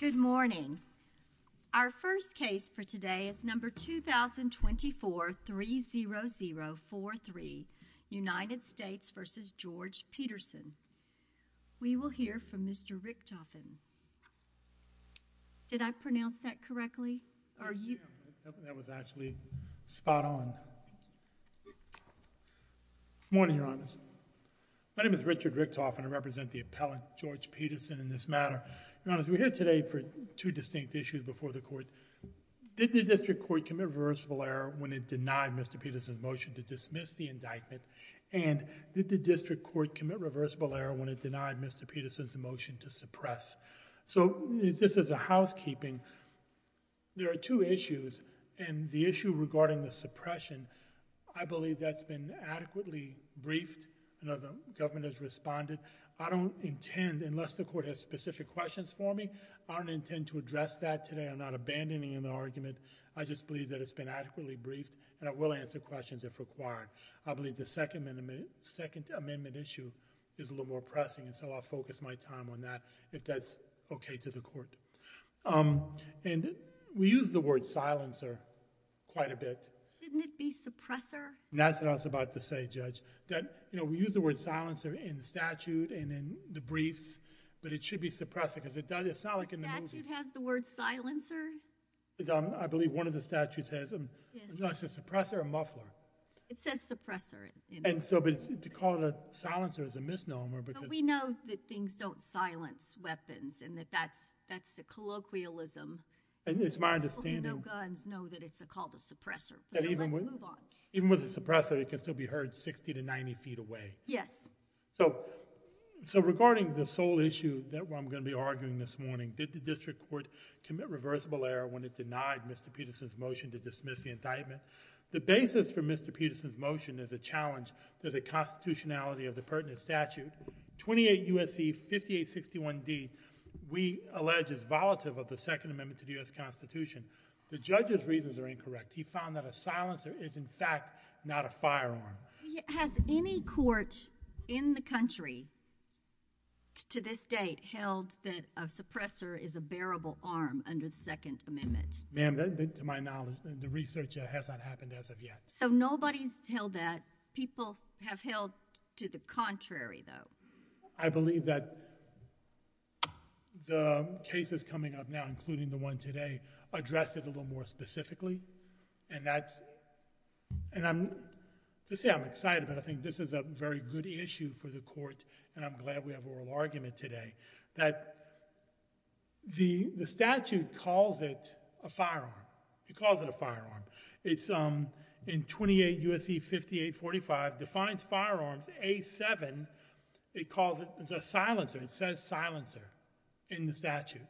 Good morning. Our first case for today is number 2024-30043, United States v. George Peterson. We will hear from Mr. Richtofen. Did I pronounce that correctly? That was actually spot on. Good morning, Your Honors. My name is Richard Richtofen. I represent the appellant, George Peterson, in this matter. Your Honors, we're here today for two distinct issues before the Court. Did the District Court commit reversible error when it denied Mr. Peterson's motion to dismiss the indictment, and did the District Court commit reversible error when it denied Mr. Peterson's motion to suppress? So just as a housekeeping, there are two issues, and the issue regarding the suppression, I believe that's been adequately briefed. I know the government has responded. I don't intend, unless the Court has specific questions for me, I don't intend to address that today. I'm not abandoning an argument. I just believe that it's been adequately briefed, and I will answer questions if required. I believe the second amendment issue is a little more pressing, and so I'll focus my time on that, if that's okay to the Court. And we use the word silencer quite a bit. Shouldn't it be suppressor? That's what I was about to say, Judge. You know, we use the word silencer in the statute and in the briefs, but it should be suppressor, because it's not like in the movies. The statute has the word silencer? I believe one of the statutes has them. I don't know if it says suppressor or muffler. It says suppressor. And so to call it a silencer is a misnomer, because— But we know that things don't silence weapons, and that that's a colloquialism. And it's my understanding— No guns know that it's called a suppressor. So let's move on. Even with a suppressor, it can still be heard 60 to 90 feet away. Yes. So, regarding the sole issue that I'm going to be arguing this morning, did the District Court commit reversible error when it denied Mr. Peterson's motion to dismiss the indictment? The basis for Mr. Peterson's motion is a challenge to the constitutionality of the pertinent statute. 28 U.S.C. 5861d, we allege, is volatile of the second amendment to the U.S. Constitution. The judge's reasons are incorrect. He found that a silencer is, in fact, not a firearm. Has any court in the country to this date held that a suppressor is a bearable arm under the second amendment? Ma'am, to my knowledge, the research hasn't happened as of yet. So nobody's held that. People have held to the contrary, though. I believe that the cases coming up now, including the one today, address it a little more specifically. And that's—and I'm—to say I'm excited about it, I think this is a very good issue for the court, and I'm glad we have oral argument today, that the statute calls it a firearm. It calls it a firearm. It's in 28 U.S.C. 5845, defines firearms, A7, it calls it—it's a silencer, it says silencer in the statute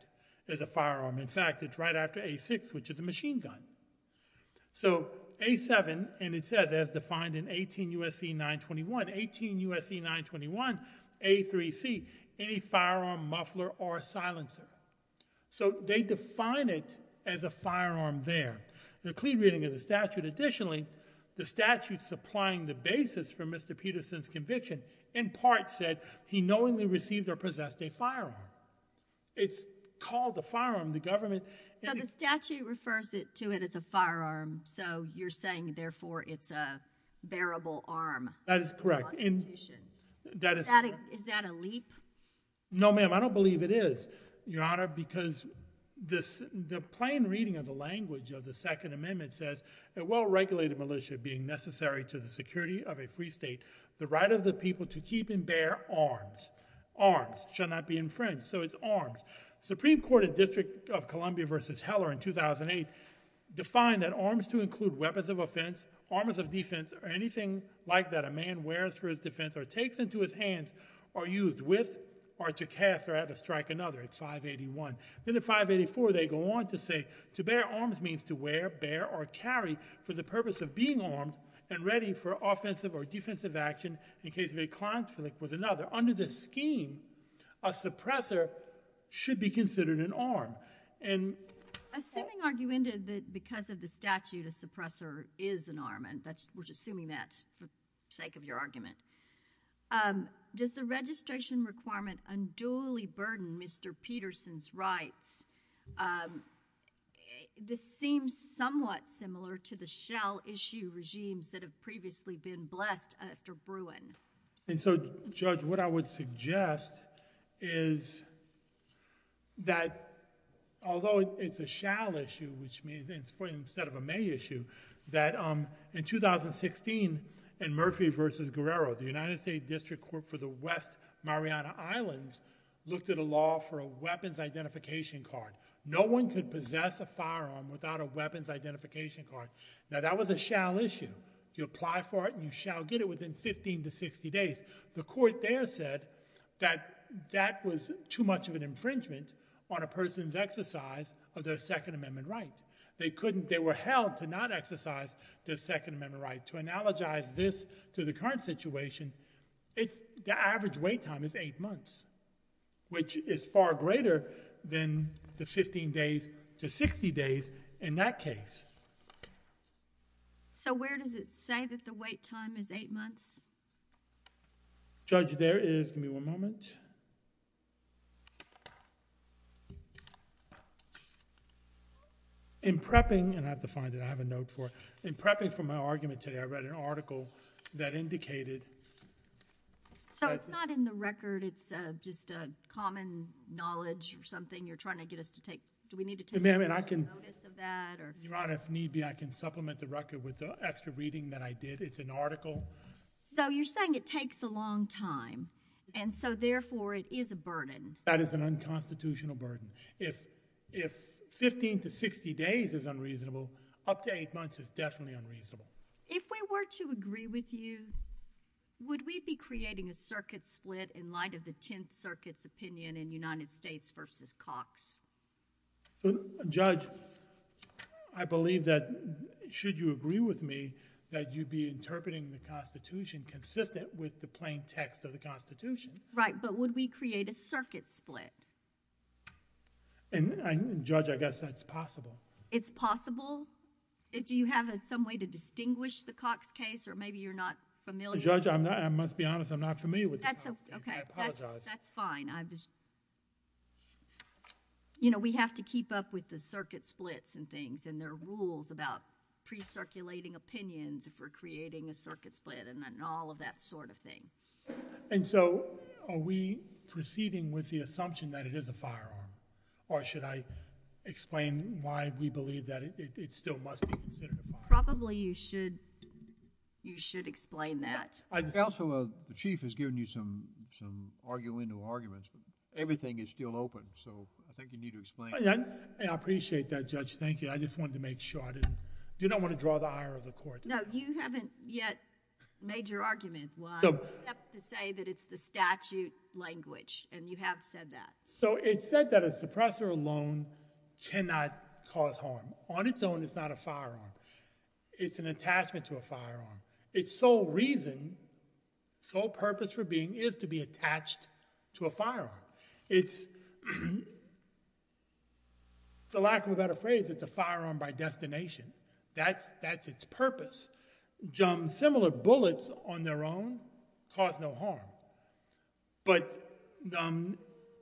as a firearm. In fact, it's right after A6, which is a machine gun. So A7, and it says as defined in 18 U.S.C. 921, 18 U.S.C. 921, A3C, any firearm, muffler, or silencer. So they define it as a firearm there. The clean reading of the statute, additionally, the statute supplying the basis for Mr. Peterson's conviction in part said he knowingly received or possessed a firearm. It's called a firearm, the government— So the statute refers to it as a firearm, so you're saying therefore it's a bearable arm in the Constitution. That is correct. Is that a leap? No ma'am, I don't believe it is, Your Honor, because the plain reading of the language of the Second Amendment says a well-regulated militia being necessary to the security of a free state, the right of the people to keep and bear arms, arms, shall not be infringed. So it's arms. The Supreme Court in District of Columbia v. Heller in 2008 defined that arms to include weapons of offense, arms of defense, or anything like that a man wears for his defense or takes into his hands or used with or to cast or to strike another, it's 581. Then in 584, they go on to say to bear arms means to wear, bear, or carry for the purpose of being armed and ready for offensive or defensive action in case of a conflict with another. Under this scheme, a suppressor should be considered an arm. Assuming, Arguenda, that because of the statute, a suppressor is an arm, and we're just assuming that for sake of your argument, does the registration requirement unduly burden Mr. Peterson's rights? This seems somewhat similar to the shall issue regimes that have previously been blessed after Bruin. And so, Judge, what I would suggest is that although it's a shall issue, which means instead of a may issue, that in 2016 in Murphy v. Guerrero, the United States District Court for the West Mariana Islands looked at a law for a weapons identification card. No one could possess a firearm without a weapons identification card. Now, that was a shall issue. You apply for it and you shall get it within 15 to 60 days. The court there said that that was too much of an infringement on a person's exercise of their Second Amendment right. They couldn't, they were held to not exercise their Second Amendment right. To analogize this to the current situation, it's, the average wait time is eight months, which is far greater than the 15 days to 60 days in that case. So where does it say that the wait time is eight months? Judge, there is, give me one moment. In prepping, and I have to find it, I have a note for it. In prepping for my argument today, I read an article that indicated. So it's not in the record. It's just a common knowledge or something you're trying to get us to take. Do we need to take notice of that or? Your Honor, if need be, I can supplement the record with the extra reading that I did. It's an article. So you're saying it takes a long time, and so therefore it is a burden. That is an unconstitutional burden. If 15 to 60 days is unreasonable, up to eight months is definitely unreasonable. If we were to agree with you, would we be creating a circuit split in light of the Tenth Circuit's opinion in United States v. Cox? So Judge, I believe that, should you agree with me, that you'd be interpreting the Constitution consistent with the plain text of the Constitution. Right, but would we create a circuit split? Judge, I guess that's possible. It's possible? Do you have some way to distinguish the Cox case, or maybe you're not familiar? Judge, I must be honest, I'm not familiar with the Cox case, I apologize. That's fine. We have to keep up with the circuit splits and things, and there are rules about precirculating opinions if we're creating a circuit split and all of that sort of thing. And so, are we proceeding with the assumption that it is a firearm? Or should I explain why we believe that it still must be considered a firearm? Probably you should explain that. Counsel, the Chief has given you some argumental arguments, but everything is still open, so I think you need to explain that. I appreciate that, Judge. Thank you. I just wanted to make sure I didn't... Do you not want to draw the ire of the Court? No, you haven't yet made your argument. Except to say that it's the statute language, and you have said that. So it's said that a suppressor alone cannot cause harm. On its own, it's not a firearm. It's an attachment to a firearm. Its sole reason, sole purpose for being, is to be attached to a firearm. It's, for lack of a better phrase, it's a firearm by destination. That's its purpose. Similar bullets on their own cause no harm. But...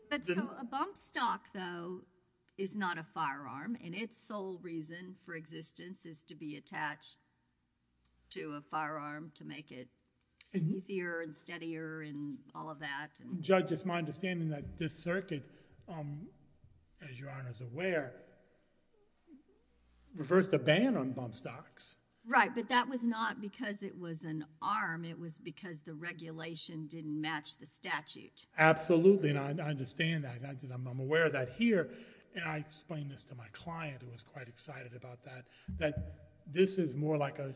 But so, a bump stock, though, is not a firearm, and its sole reason for existence is to be attached to a firearm to make it easier and steadier and all of that. Judge, it's my understanding that this circuit, as Your Honor is aware, reversed a ban on bump stocks. Right. But that was not because it was an arm. It was because the regulation didn't match the statute. Absolutely. And I understand that. I'm aware of that here. And I explained this to my client, who was quite excited about that, that this is more like a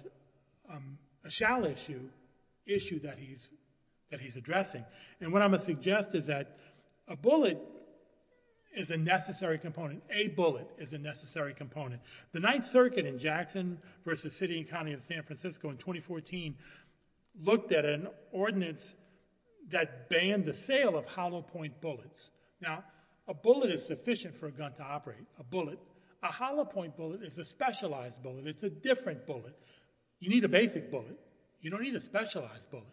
shall issue, issue that he's addressing. And what I'm going to suggest is that a bullet is a necessary component. A bullet is a necessary component. The Ninth Circuit in Jackson versus City and County of San Francisco in 2014 looked at an ordinance that banned the sale of hollow point bullets. Now, a bullet is sufficient for a gun to operate, a bullet. A hollow point bullet is a specialized bullet. It's a different bullet. You need a basic bullet. You don't need a specialized bullet.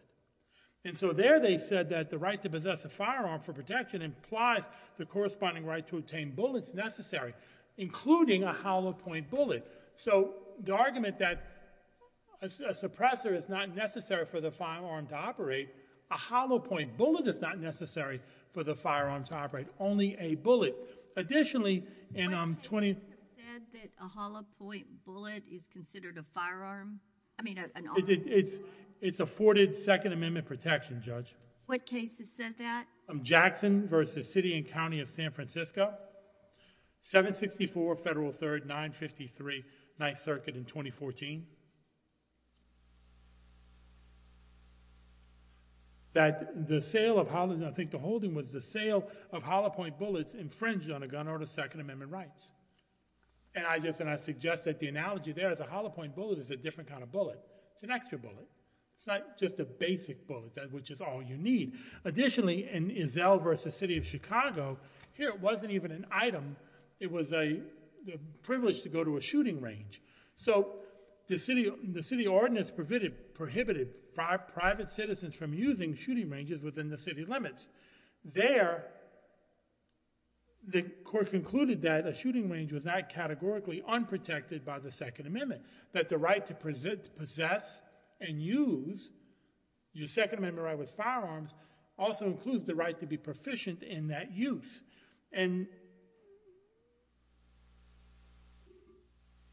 And so there they said that the right to possess a firearm for protection implies the corresponding right to obtain bullets necessary, including a hollow point bullet. So the argument that a suppressor is not necessary for the firearm to operate, a hollow point bullet is not necessary for the firearm to operate. Only a bullet. Additionally, and I'm 20. What cases have said that a hollow point bullet is considered a firearm? I mean, an arm. It's afforded Second Amendment protection, Judge. What cases said that? Jackson versus City and County of San Francisco. 764 Federal 3rd, 953 Ninth Circuit in 2014. That the sale of hollow, I think the holding was the sale of hollow point bullets infringed on a gun or the Second Amendment rights. And I suggest that the analogy there is a hollow point bullet is a different kind of bullet. It's an extra bullet. It's not just a basic bullet, which is all you need. Additionally, in Zell versus City of Chicago, here it wasn't even an item. It was a privilege to go to a shooting range. So the city ordinance prohibited private citizens from using shooting ranges within the city limits. There, the court concluded that a shooting range was not categorically unprotected by the Second Amendment. That the right to possess and use your Second Amendment right with firearms also includes the right to be proficient in that use. And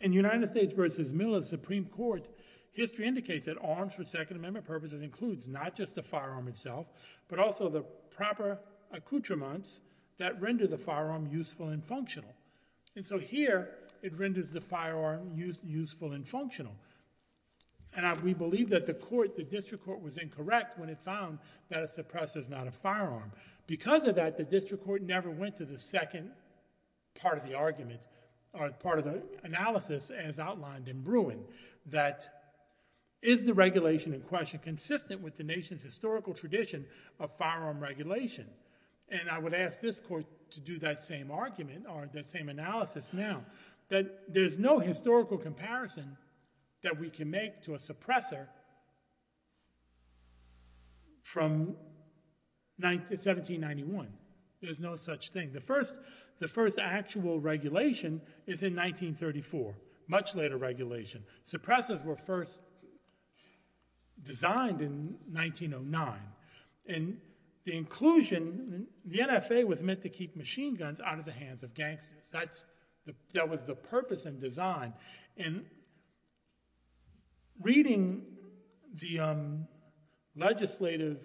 in United States versus Middle and Supreme Court, history indicates that arms for Second Amendment purposes includes not just the firearm itself, but also the proper accoutrements that render the firearm useful and functional. And so here, it renders the firearm useful and functional. And we believe that the district court was incorrect when it found that a suppressor is not a firearm. Because of that, the district court never went to the second part of the argument, or part of the analysis as outlined in Bruin, that is the regulation in question consistent with the nation's historical tradition of firearm regulation? And I would ask this court to do that same argument, or that same analysis now, that there's no historical comparison that we can make to a suppressor from 1791. There's no such thing. The first actual regulation is in 1934, much later regulation. Suppressors were first designed in 1909. And the inclusion, the NFA was meant to keep machine guns out of the hands of gangsters. That was the purpose and design. And reading the legislative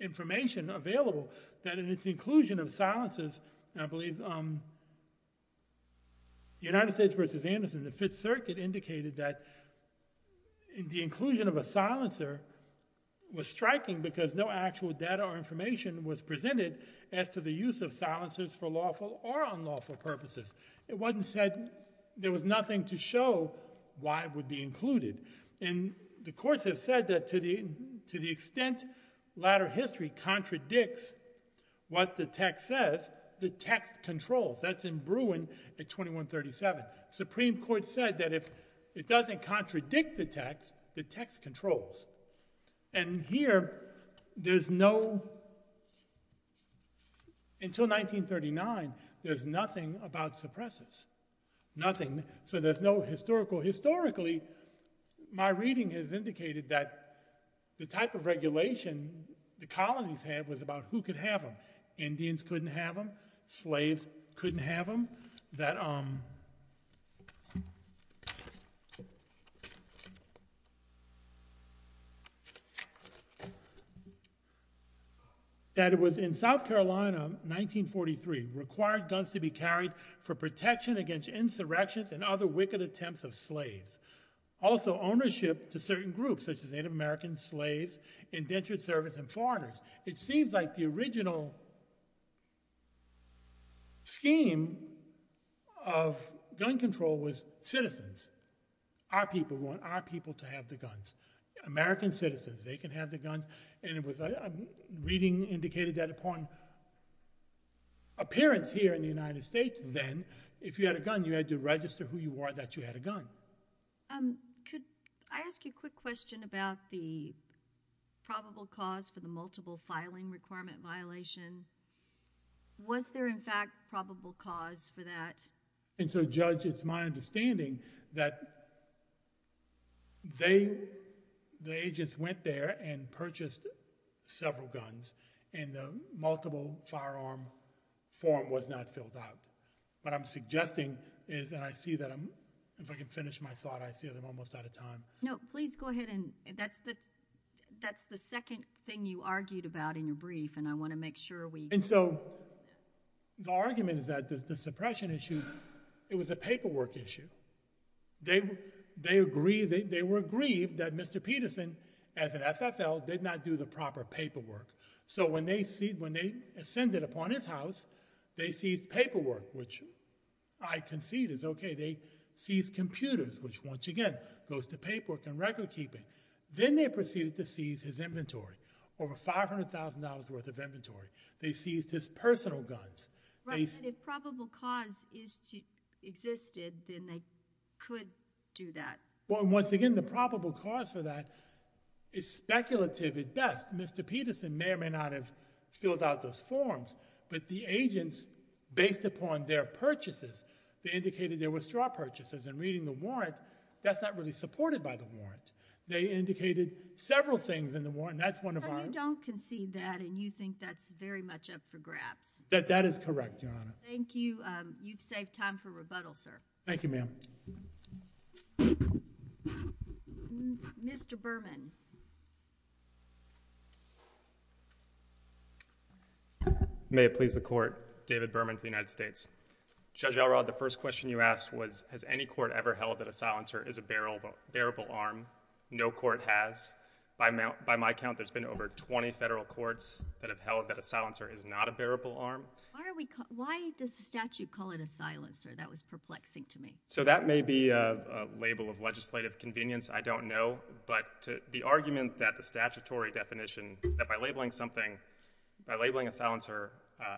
information available, that in its inclusion of silencers, and I believe the United States versus Anderson, the Fifth Circuit indicated that the inclusion of a silencer was striking because no actual data or information was presented as to the use of silencers for lawful or unlawful purposes. It wasn't said there was nothing to show why it would be included. And the courts have said that to the extent latter history contradicts what the text says, the text controls. That's in Bruin at 2137. Supreme Court said that if it doesn't contradict the text, the text controls. And here, until 1939, there's nothing about suppressors. So there's no historical. Historically, my reading has indicated that the type of regulation the colonies had was about who could have them. Indians couldn't have them. Slaves couldn't have them. That it was in South Carolina, 1943, required guns to be carried for protection against insurrections and other wicked attempts of slaves. Also, ownership to certain groups, such as Native American slaves, indentured servants, and foreigners. It seems like the original scheme of gun control was citizens. Our people want our people to have the guns. American citizens, they can have the guns. And reading indicated that upon appearance here in the United States then, if you had a gun, you had to register who you were that you had a gun. I ask you a quick question about the probable cause for the multiple filing requirement violation. Was there, in fact, probable cause for that? And so, Judge, it's my understanding that the agents went there and purchased several guns. And the multiple firearm form was not filled out. What I'm suggesting is, and I see that I'm, if I can finish my thought, I see that I'm almost out of time. No, please go ahead and that's the second thing you argued about in your brief. And I want to make sure we. And so, the argument is that the suppression issue, it was a paperwork issue. They were aggrieved that Mr. Peterson, as an FFL, did not do the proper paperwork. So when they ascended upon his house, they seized paperwork, which I concede is OK. They seized computers, which once again, goes to paperwork and record keeping. Then they proceeded to seize his inventory, over $500,000 worth of inventory. They seized his personal guns. Right, but if probable cause existed, then they could do that. Well, once again, the probable cause for that is speculative at best. Mr. Peterson may or may not have filled out those forms. But the agents, based upon their purchases, they indicated there were straw purchases. And reading the warrant, that's not really supported by the warrant. They indicated several things in the warrant, and that's one of our. So you don't concede that, and you think that's very much up for grabs? That is correct, Your Honor. Thank you. You've saved time for rebuttal, sir. Thank you, ma'am. Mr. Berman. May it please the court, David Berman for the United States. Judge Elrod, the first question you asked was, has any court ever held that a silencer is a bearable arm? No court has. By my count, there's been over 20 federal courts that have held that a silencer is not a bearable arm. Why does the statute call it a silencer? That was perplexing to me. So that may be a label of legislative convenience. I don't know. But the argument that the statutory definition, that by labeling something, by labeling a silencer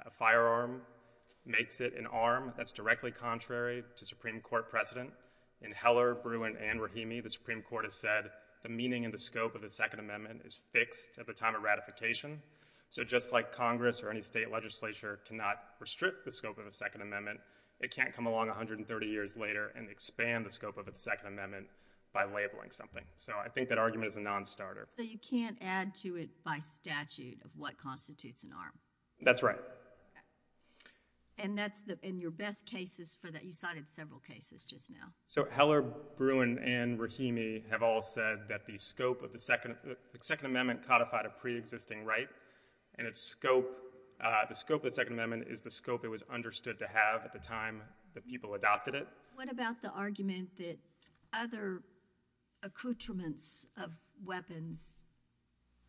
a firearm, makes it an arm, that's directly contrary to Supreme Court precedent. In Heller, Bruin, and Rahimi, the Supreme Court has said the meaning and the scope of the Second Amendment is fixed at the time of ratification. So just like Congress or any state legislature cannot restrict the scope of the Second Amendment, it can't come along 130 years later and expand the scope of the Second Amendment by labeling something. So I think that argument is a non-starter. So you can't add to it by statute of what constitutes an arm. That's right. And that's in your best cases for that. You cited several cases just now. So Heller, Bruin, and Rahimi have all said that the scope of the Second Amendment codified a pre-existing right. And the scope of the Second Amendment is the scope it was understood to have at the time that people adopted it. What about the argument that other accoutrements of weapons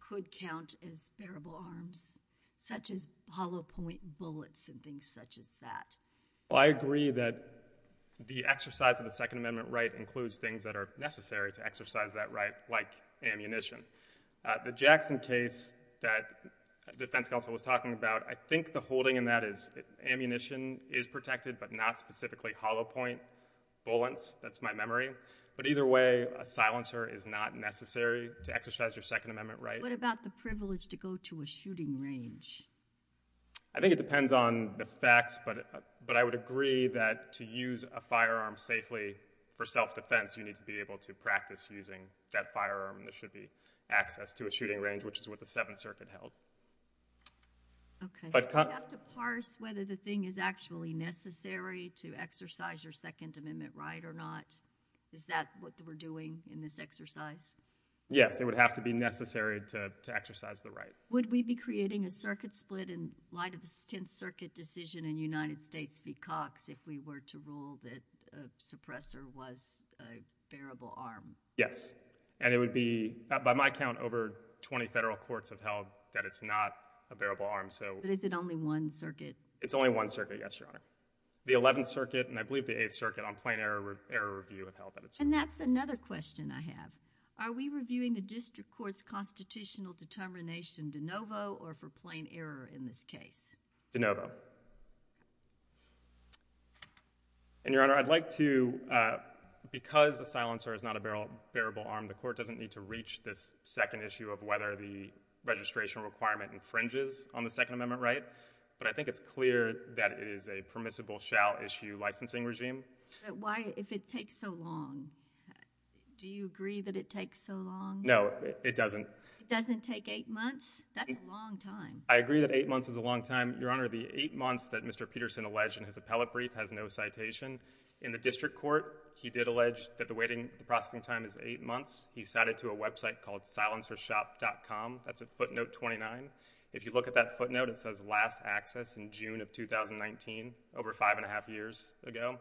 could count as bearable arms, such as hollow point bullets and things such as that? I agree that the exercise of the Second Amendment right includes things that are necessary to exercise that right, like ammunition. The Jackson case that defense counsel was talking about, I think the holding in that is ammunition is protected, but not specifically hollow point bullets. That's my memory. But either way, a silencer is not necessary to exercise your Second Amendment right. What about the privilege to go to a shooting range? I think it depends on the facts. But I would agree that to use a firearm safely for self-defense, you need to be able to practice using that firearm. There should be access to a shooting range, which is what the Seventh Circuit held. OK. Do you have to parse whether the thing is actually necessary to exercise your Second Amendment right or not? Is that what we're doing in this exercise? Yes, it would have to be necessary to exercise the right. Would we be creating a circuit split in light of the Tenth Circuit decision in United States v. Cox if we were to rule that a suppressor was a bearable arm? Yes. And it would be, by my count, over 20 federal courts have held that it's not a bearable arm. But is it only one circuit? It's only one circuit, yes, Your Honor. The Eleventh Circuit, and I believe the Eighth Circuit, on plain error review have held that it's not. And that's another question I have. Are we reviewing the district court's constitutional determination de novo or for plain error in this case? And Your Honor, I'd like to, because a silencer is not a bearable arm, the court doesn't need to reach this second issue of whether the registration requirement infringes on the Second Amendment right. But I think it's clear that it is a permissible shall issue licensing regime. Why, if it takes so long? Do you agree that it takes so long? No, it doesn't. It doesn't take eight months? That's a long time. I agree that eight months is a long time. Your Honor, the eight months that Mr. Peterson alleged in his appellate brief has no citation. In the district court, he did allege that the waiting processing time is eight months. He cited to a website called silencershop.com. That's a footnote 29. If you look at that footnote, it says last access in June of 2019, over 5 and 1 half years ago.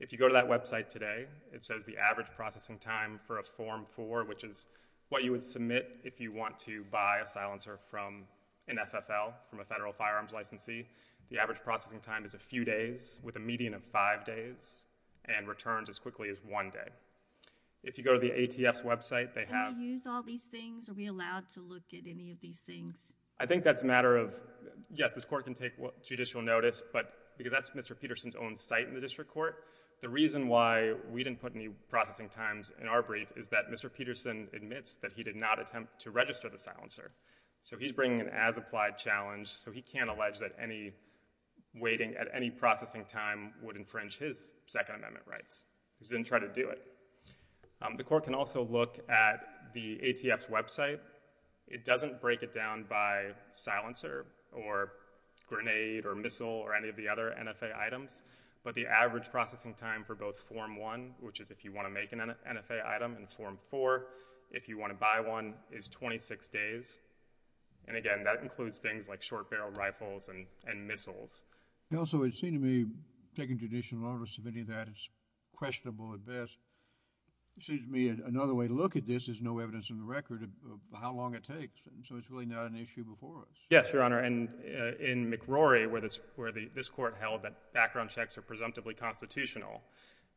If you go to that website today, it says the average processing time for a Form 4, which is what you would submit if you want to buy a silencer from an FFL, from a federal firearms licensee, the average processing time is a few days, with a median of five days, and returns as quickly as one day. If you go to the ATF's website, they have- Can we use all these things? Are we allowed to look at any of these things? I think that's a matter of, yes, the court can take judicial notice, but because that's Mr. Peterson's own site in the district court, the reason why we didn't put any processing times in our brief is that Mr. Peterson admits that he did not attempt to register the silencer. So he's bringing an as-applied challenge, so he can't allege that any waiting at any processing time would infringe his Second Amendment rights. He's didn't try to do it. The court can also look at the ATF's website. It doesn't break it down by silencer, or grenade, or missile, or any of the other NFA items, but the average processing time for both Form 1, which is if you want to make an NFA item in Form 4, if you want to buy one, is 26 days. And again, that includes things like short barrel rifles and missiles. Also, it seemed to me, taking judicial notice of any of that is questionable at best. It seems to me another way to look at this is no evidence in the record of how long it takes. So it's really not an issue before us. Yes, Your Honor, and in McRory, where this court held that background checks are presumptively constitutional,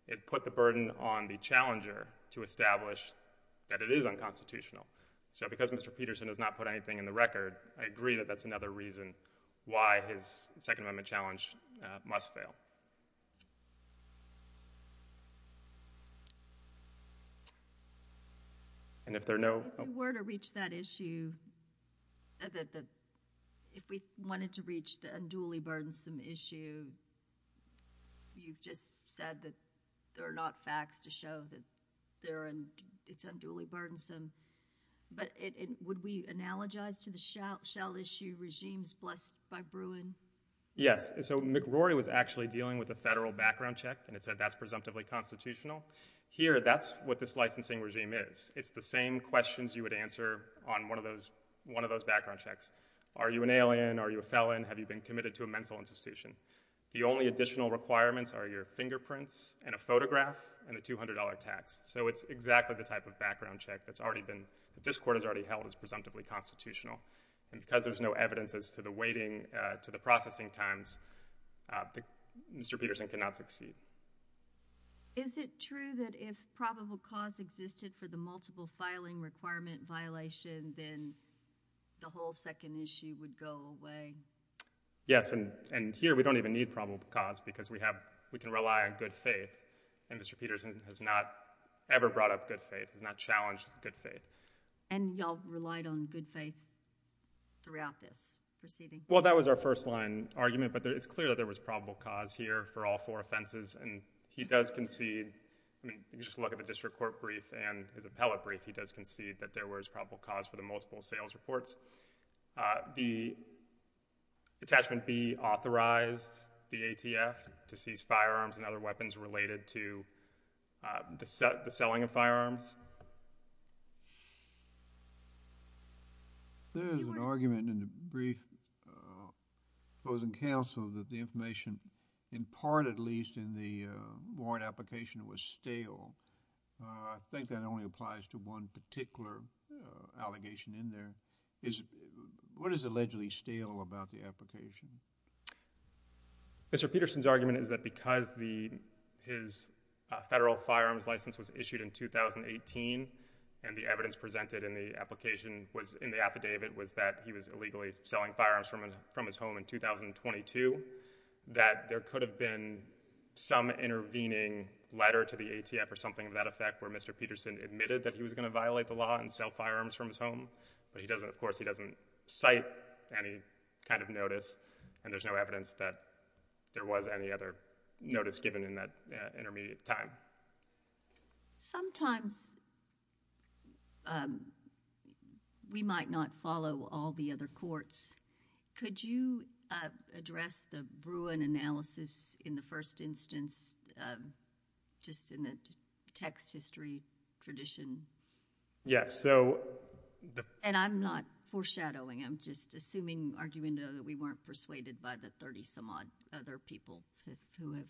it put the burden on the challenger to establish that it is unconstitutional. So because Mr. Peterson has not put anything in the record, I agree that that's another reason why his Second Amendment challenge must fail. And if there are no- If we were to reach that issue, if we wanted to reach the unduly burdensome issue, you've just said that there are not facts to show that it's unduly burdensome. But would we analogize to the shell issue regimes blessed by Bruin? Yes, so McRory was actually dealing with a federal background check, and it said that's presumptively constitutional. Here, that's what this licensing regime is. It's the same questions you would answer on one of those background checks. Are you an alien? Are you a felon? Have you been committed to a mental institution? The only additional requirements are your fingerprints and a photograph and a $200 tax. So it's exactly the type of background check that's already been, that this court has already held as presumptively constitutional. And because there's no evidence as to the waiting, to the processing times, Mr. Peterson cannot succeed. Is it true that if probable cause existed for the multiple filing requirement violation, then the whole second issue would go away? Yes, and here we don't even need probable cause because we can rely on good faith, and Mr. Peterson has not ever brought up good faith, has not challenged good faith. And y'all relied on good faith throughout this proceeding? Well, that was our first line argument, but it's clear that there was probable cause here for all four offenses, and he does concede, I mean, you just look at the district court brief and his appellate brief, he does concede that there was probable cause for the multiple sales reports. The attachment B authorized the ATF to seize firearms and other weapons related to the selling of firearms. There is an argument in the brief closing counsel that the information, in part at least, in the warrant application was stale. I think that only applies to one particular allegation in there. What is allegedly stale about the application? Mr. Peterson's argument is that because his federal firearms license was issued in 2018, and the evidence presented in the application, in the affidavit, was that he was illegally selling firearms from his home in 2022, that there could have been some intervening letter to the ATF or something of that effect where Mr. Peterson admitted that he was gonna violate the law and sell firearms from his home, but he doesn't, of course, he doesn't cite any kind of notice, and there's no evidence that there was any other notice given in that intermediate time. Sometimes, we might not follow all the other courts. Could you address the Bruin analysis in the first instance, just in the text history tradition? Yes, so the- And I'm not foreshadowing, I'm just assuming, arguing though, that we weren't persuaded by the 30-some-odd other people who have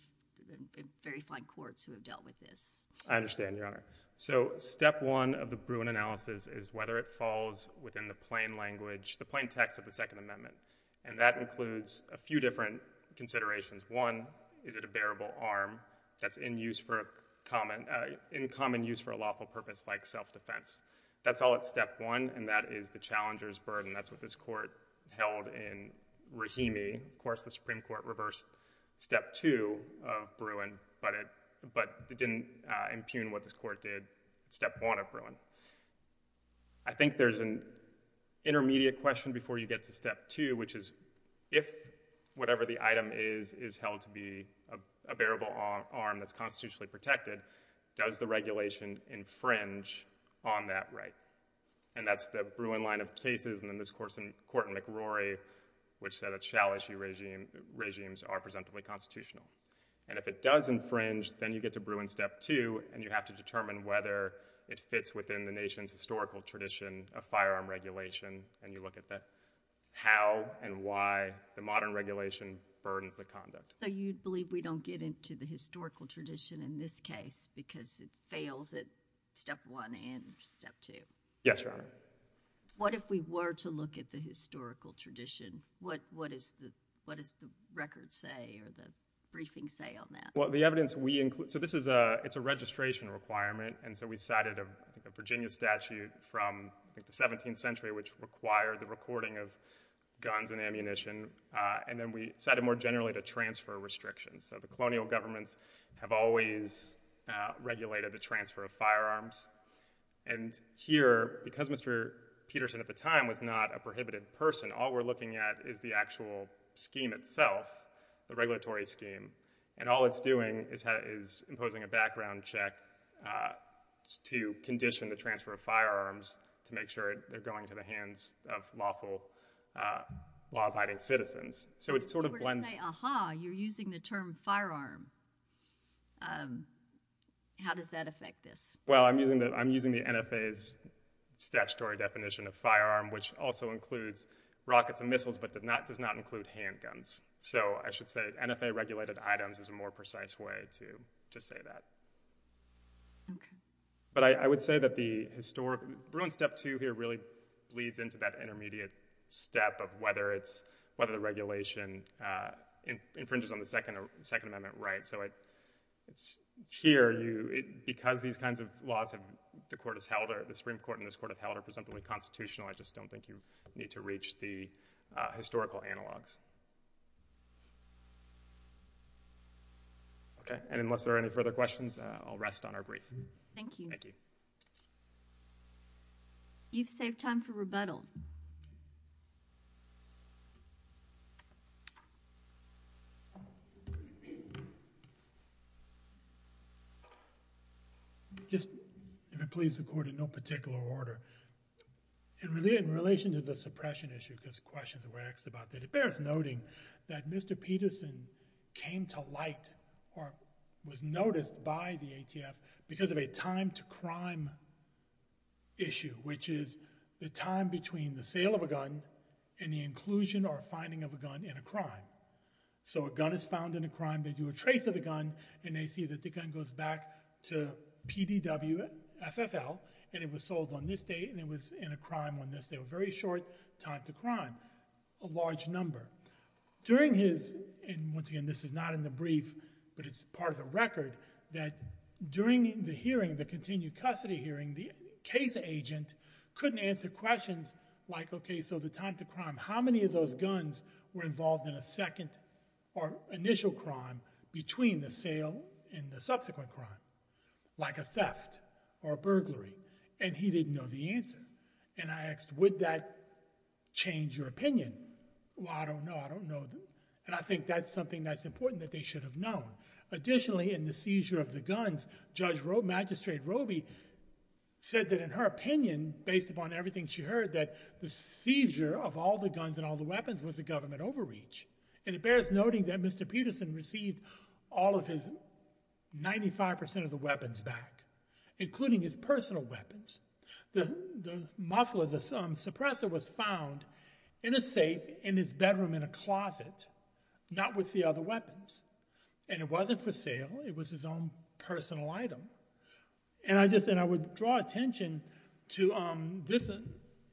been very fine courts who have dealt with this. I understand, Your Honor. So, step one of the Bruin analysis is whether it falls within the plain language, the plain text of the Second Amendment, and that includes a few different considerations. One, is it a bearable arm that's in use for a common, in common use for a lawful purpose like self-defense? That's all at step one, and that is the challenger's burden. That's what this court held in Rahimi. Of course, the Supreme Court reversed step two of Bruin, but it didn't impugn what this court did at step one of Bruin. I think there's an intermediate question before you get to step two, which is, if whatever the item is is held to be a bearable arm that's constitutionally protected, does the regulation infringe on that right? And that's the Bruin line of cases, and then this court in McRory, which said it shall issue regimes are presentably constitutional. And if it does infringe, then you get to Bruin step two, and you have to determine whether it fits within the nation's historical tradition of firearm regulation, and you look at the how and why the modern regulation burdens the conduct. So you believe we don't get into the historical tradition in this case, because it fails at step one and step two? Yes, Your Honor. What if we were to look at the historical tradition? What does the record say, or the briefing say on that? Well, the evidence we include, so this is a registration requirement, and so we cited a Virginia statute from the 17th century, which required the recording of guns and ammunition. And then we cited more generally the transfer restrictions. So the colonial governments have always regulated the transfer of firearms. And here, because Mr. Peterson at the time was not a prohibited person, all we're looking at is the actual scheme itself, the regulatory scheme. And all it's doing is imposing a background check to condition the transfer of firearms to make sure they're going to the hands of lawful, law-abiding citizens. So it sort of blends. If we were to say, aha, you're using the term firearm, how does that affect this? Well, I'm using the NFA's statutory definition of firearm, which also includes rockets and missiles, but does not include handguns. So I should say NFA-regulated items is a more precise way to say that. But I would say that the historic, Bruin step two here really bleeds into that intermediate step of whether it's, whether the regulation infringes on the Second Amendment right. So it's here, because these kinds of laws that the Supreme Court and this court have held are presumably constitutional, I just don't think you need to reach the historical analogs. Okay, and unless there are any further questions, I'll rest on our brief. Thank you. You've saved time for rebuttal. Just, if it pleases the court, in no particular order, in relation to the suppression issue, because questions were asked about that, it bears noting that Mr. Peterson came to light, or was noticed by the ATF, because of a time-to-crime issue, which is the time between the sale of a gun and the inclusion or finding of a gun in a crime. So a gun is found in a crime, they do a trace of a gun, and they see that the gun goes back to PDW FFL, and it was sold on this date, and it was in a crime on this date, a very short time to crime, a large number. During his, and once again, this is not in the brief, but it's part of the record, that during the hearing, the continued custody hearing, the case agent couldn't answer questions like, okay, so the time-to-crime, how many of those guns were involved in a second or initial crime between the sale and the subsequent crime, like a theft or a burglary? And he didn't know the answer. And I asked, would that change your opinion? Well, I don't know, I don't know. And I think that's something that's important that they should have known. Additionally, in the seizure of the guns, Judge Magistrate Roby said that in her opinion, based upon everything she heard, that the seizure of all the guns and all the weapons was a government overreach. And it bears noting that Mr. Peterson received all of his 95% of the weapons back, including his personal weapons. The muffler, the suppressor was found in a safe in his bedroom in a closet, not with the other weapons. And it wasn't for sale, it was his own personal item. And I would draw attention to this,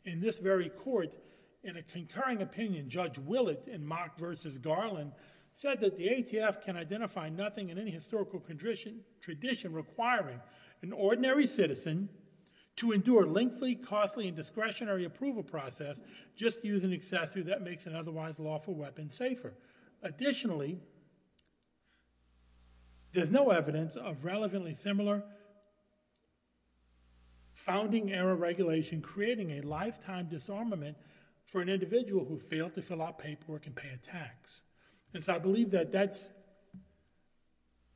in this very court, in a concurring opinion, Judge Willett in Mock versus Garland said that the ATF can identify nothing in any historical tradition requiring an ordinary citizen to endure lengthy, costly, and discretionary approval process just to use an accessory that makes an otherwise lawful weapon safer. Additionally, there's no evidence of relevantly similar founding era regulation creating a lifetime disarmament for an individual who failed to fill out paperwork and pay a tax. And so I believe that that's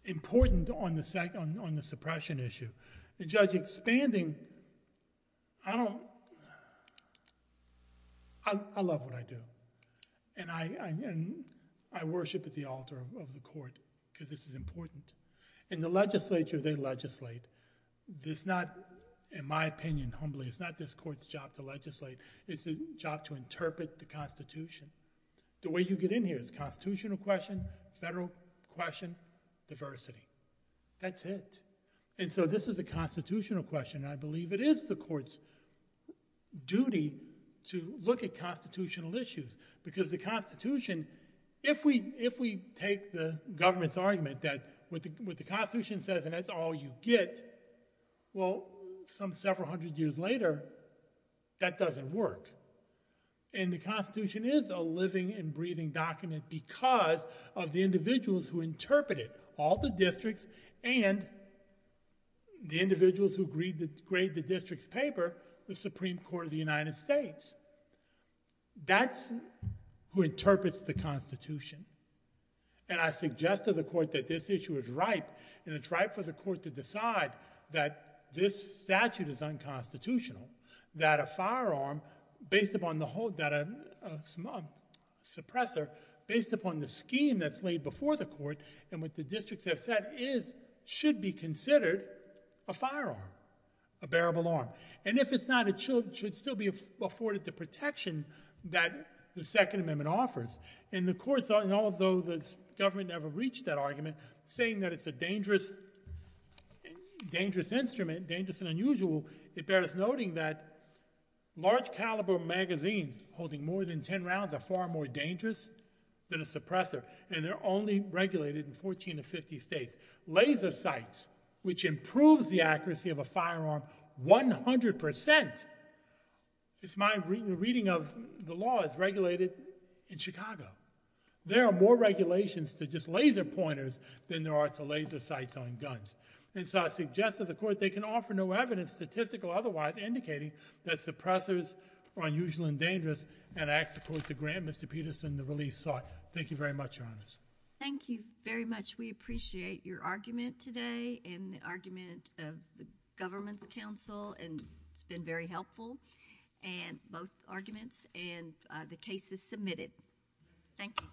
important on the suppression issue. The judge expanding, I don't, I love what I do. And I worship at the altar of the court because this is important. In the legislature, they legislate. This not, in my opinion, humbly, it's not this court's job to legislate. It's a job to interpret the constitution. The way you get in here is constitutional question, federal question, diversity. That's it. And so this is a constitutional question. I believe it is the court's duty to look at constitutional issues because the constitution, if we take the government's argument that what the constitution says, and that's all you get, well, some several hundred years later, that doesn't work. And the constitution is a living and breathing document because of the individuals who interpret it, all the districts and the individuals who grade the district's paper, the Supreme Court of the United States. That's who interprets the constitution. And I suggest to the court that this issue is ripe and it's ripe for the court to decide that this statute is unconstitutional, that a firearm based upon the whole, that a suppressor based upon the scheme that's laid before the court and what the districts have said is, should be considered a firearm, a bearable arm. And if it's not, it should still be afforded the protection that the Second Amendment offers. And the courts, and although the government never reached that argument, saying that it's a dangerous instrument, dangerous and unusual, it bears noting that large caliber magazines holding more than 10 rounds are far more dangerous than a suppressor. And they're only regulated in 14 to 50 states. Laser sights, which improves the accuracy of a firearm, 100%, it's my reading of the law, is regulated in Chicago. There are more regulations to just laser pointers than there are to laser sights on guns. And so I suggest to the court, they can offer no evidence, statistical otherwise, indicating that suppressors are unusual and dangerous. And I ask the court to grant Mr. Peterson the relief sought. Thank you very much, your honors. Thank you very much. We appreciate your argument today and the argument of the government's counsel. And it's been very helpful, both arguments, and the cases submitted. Thank you.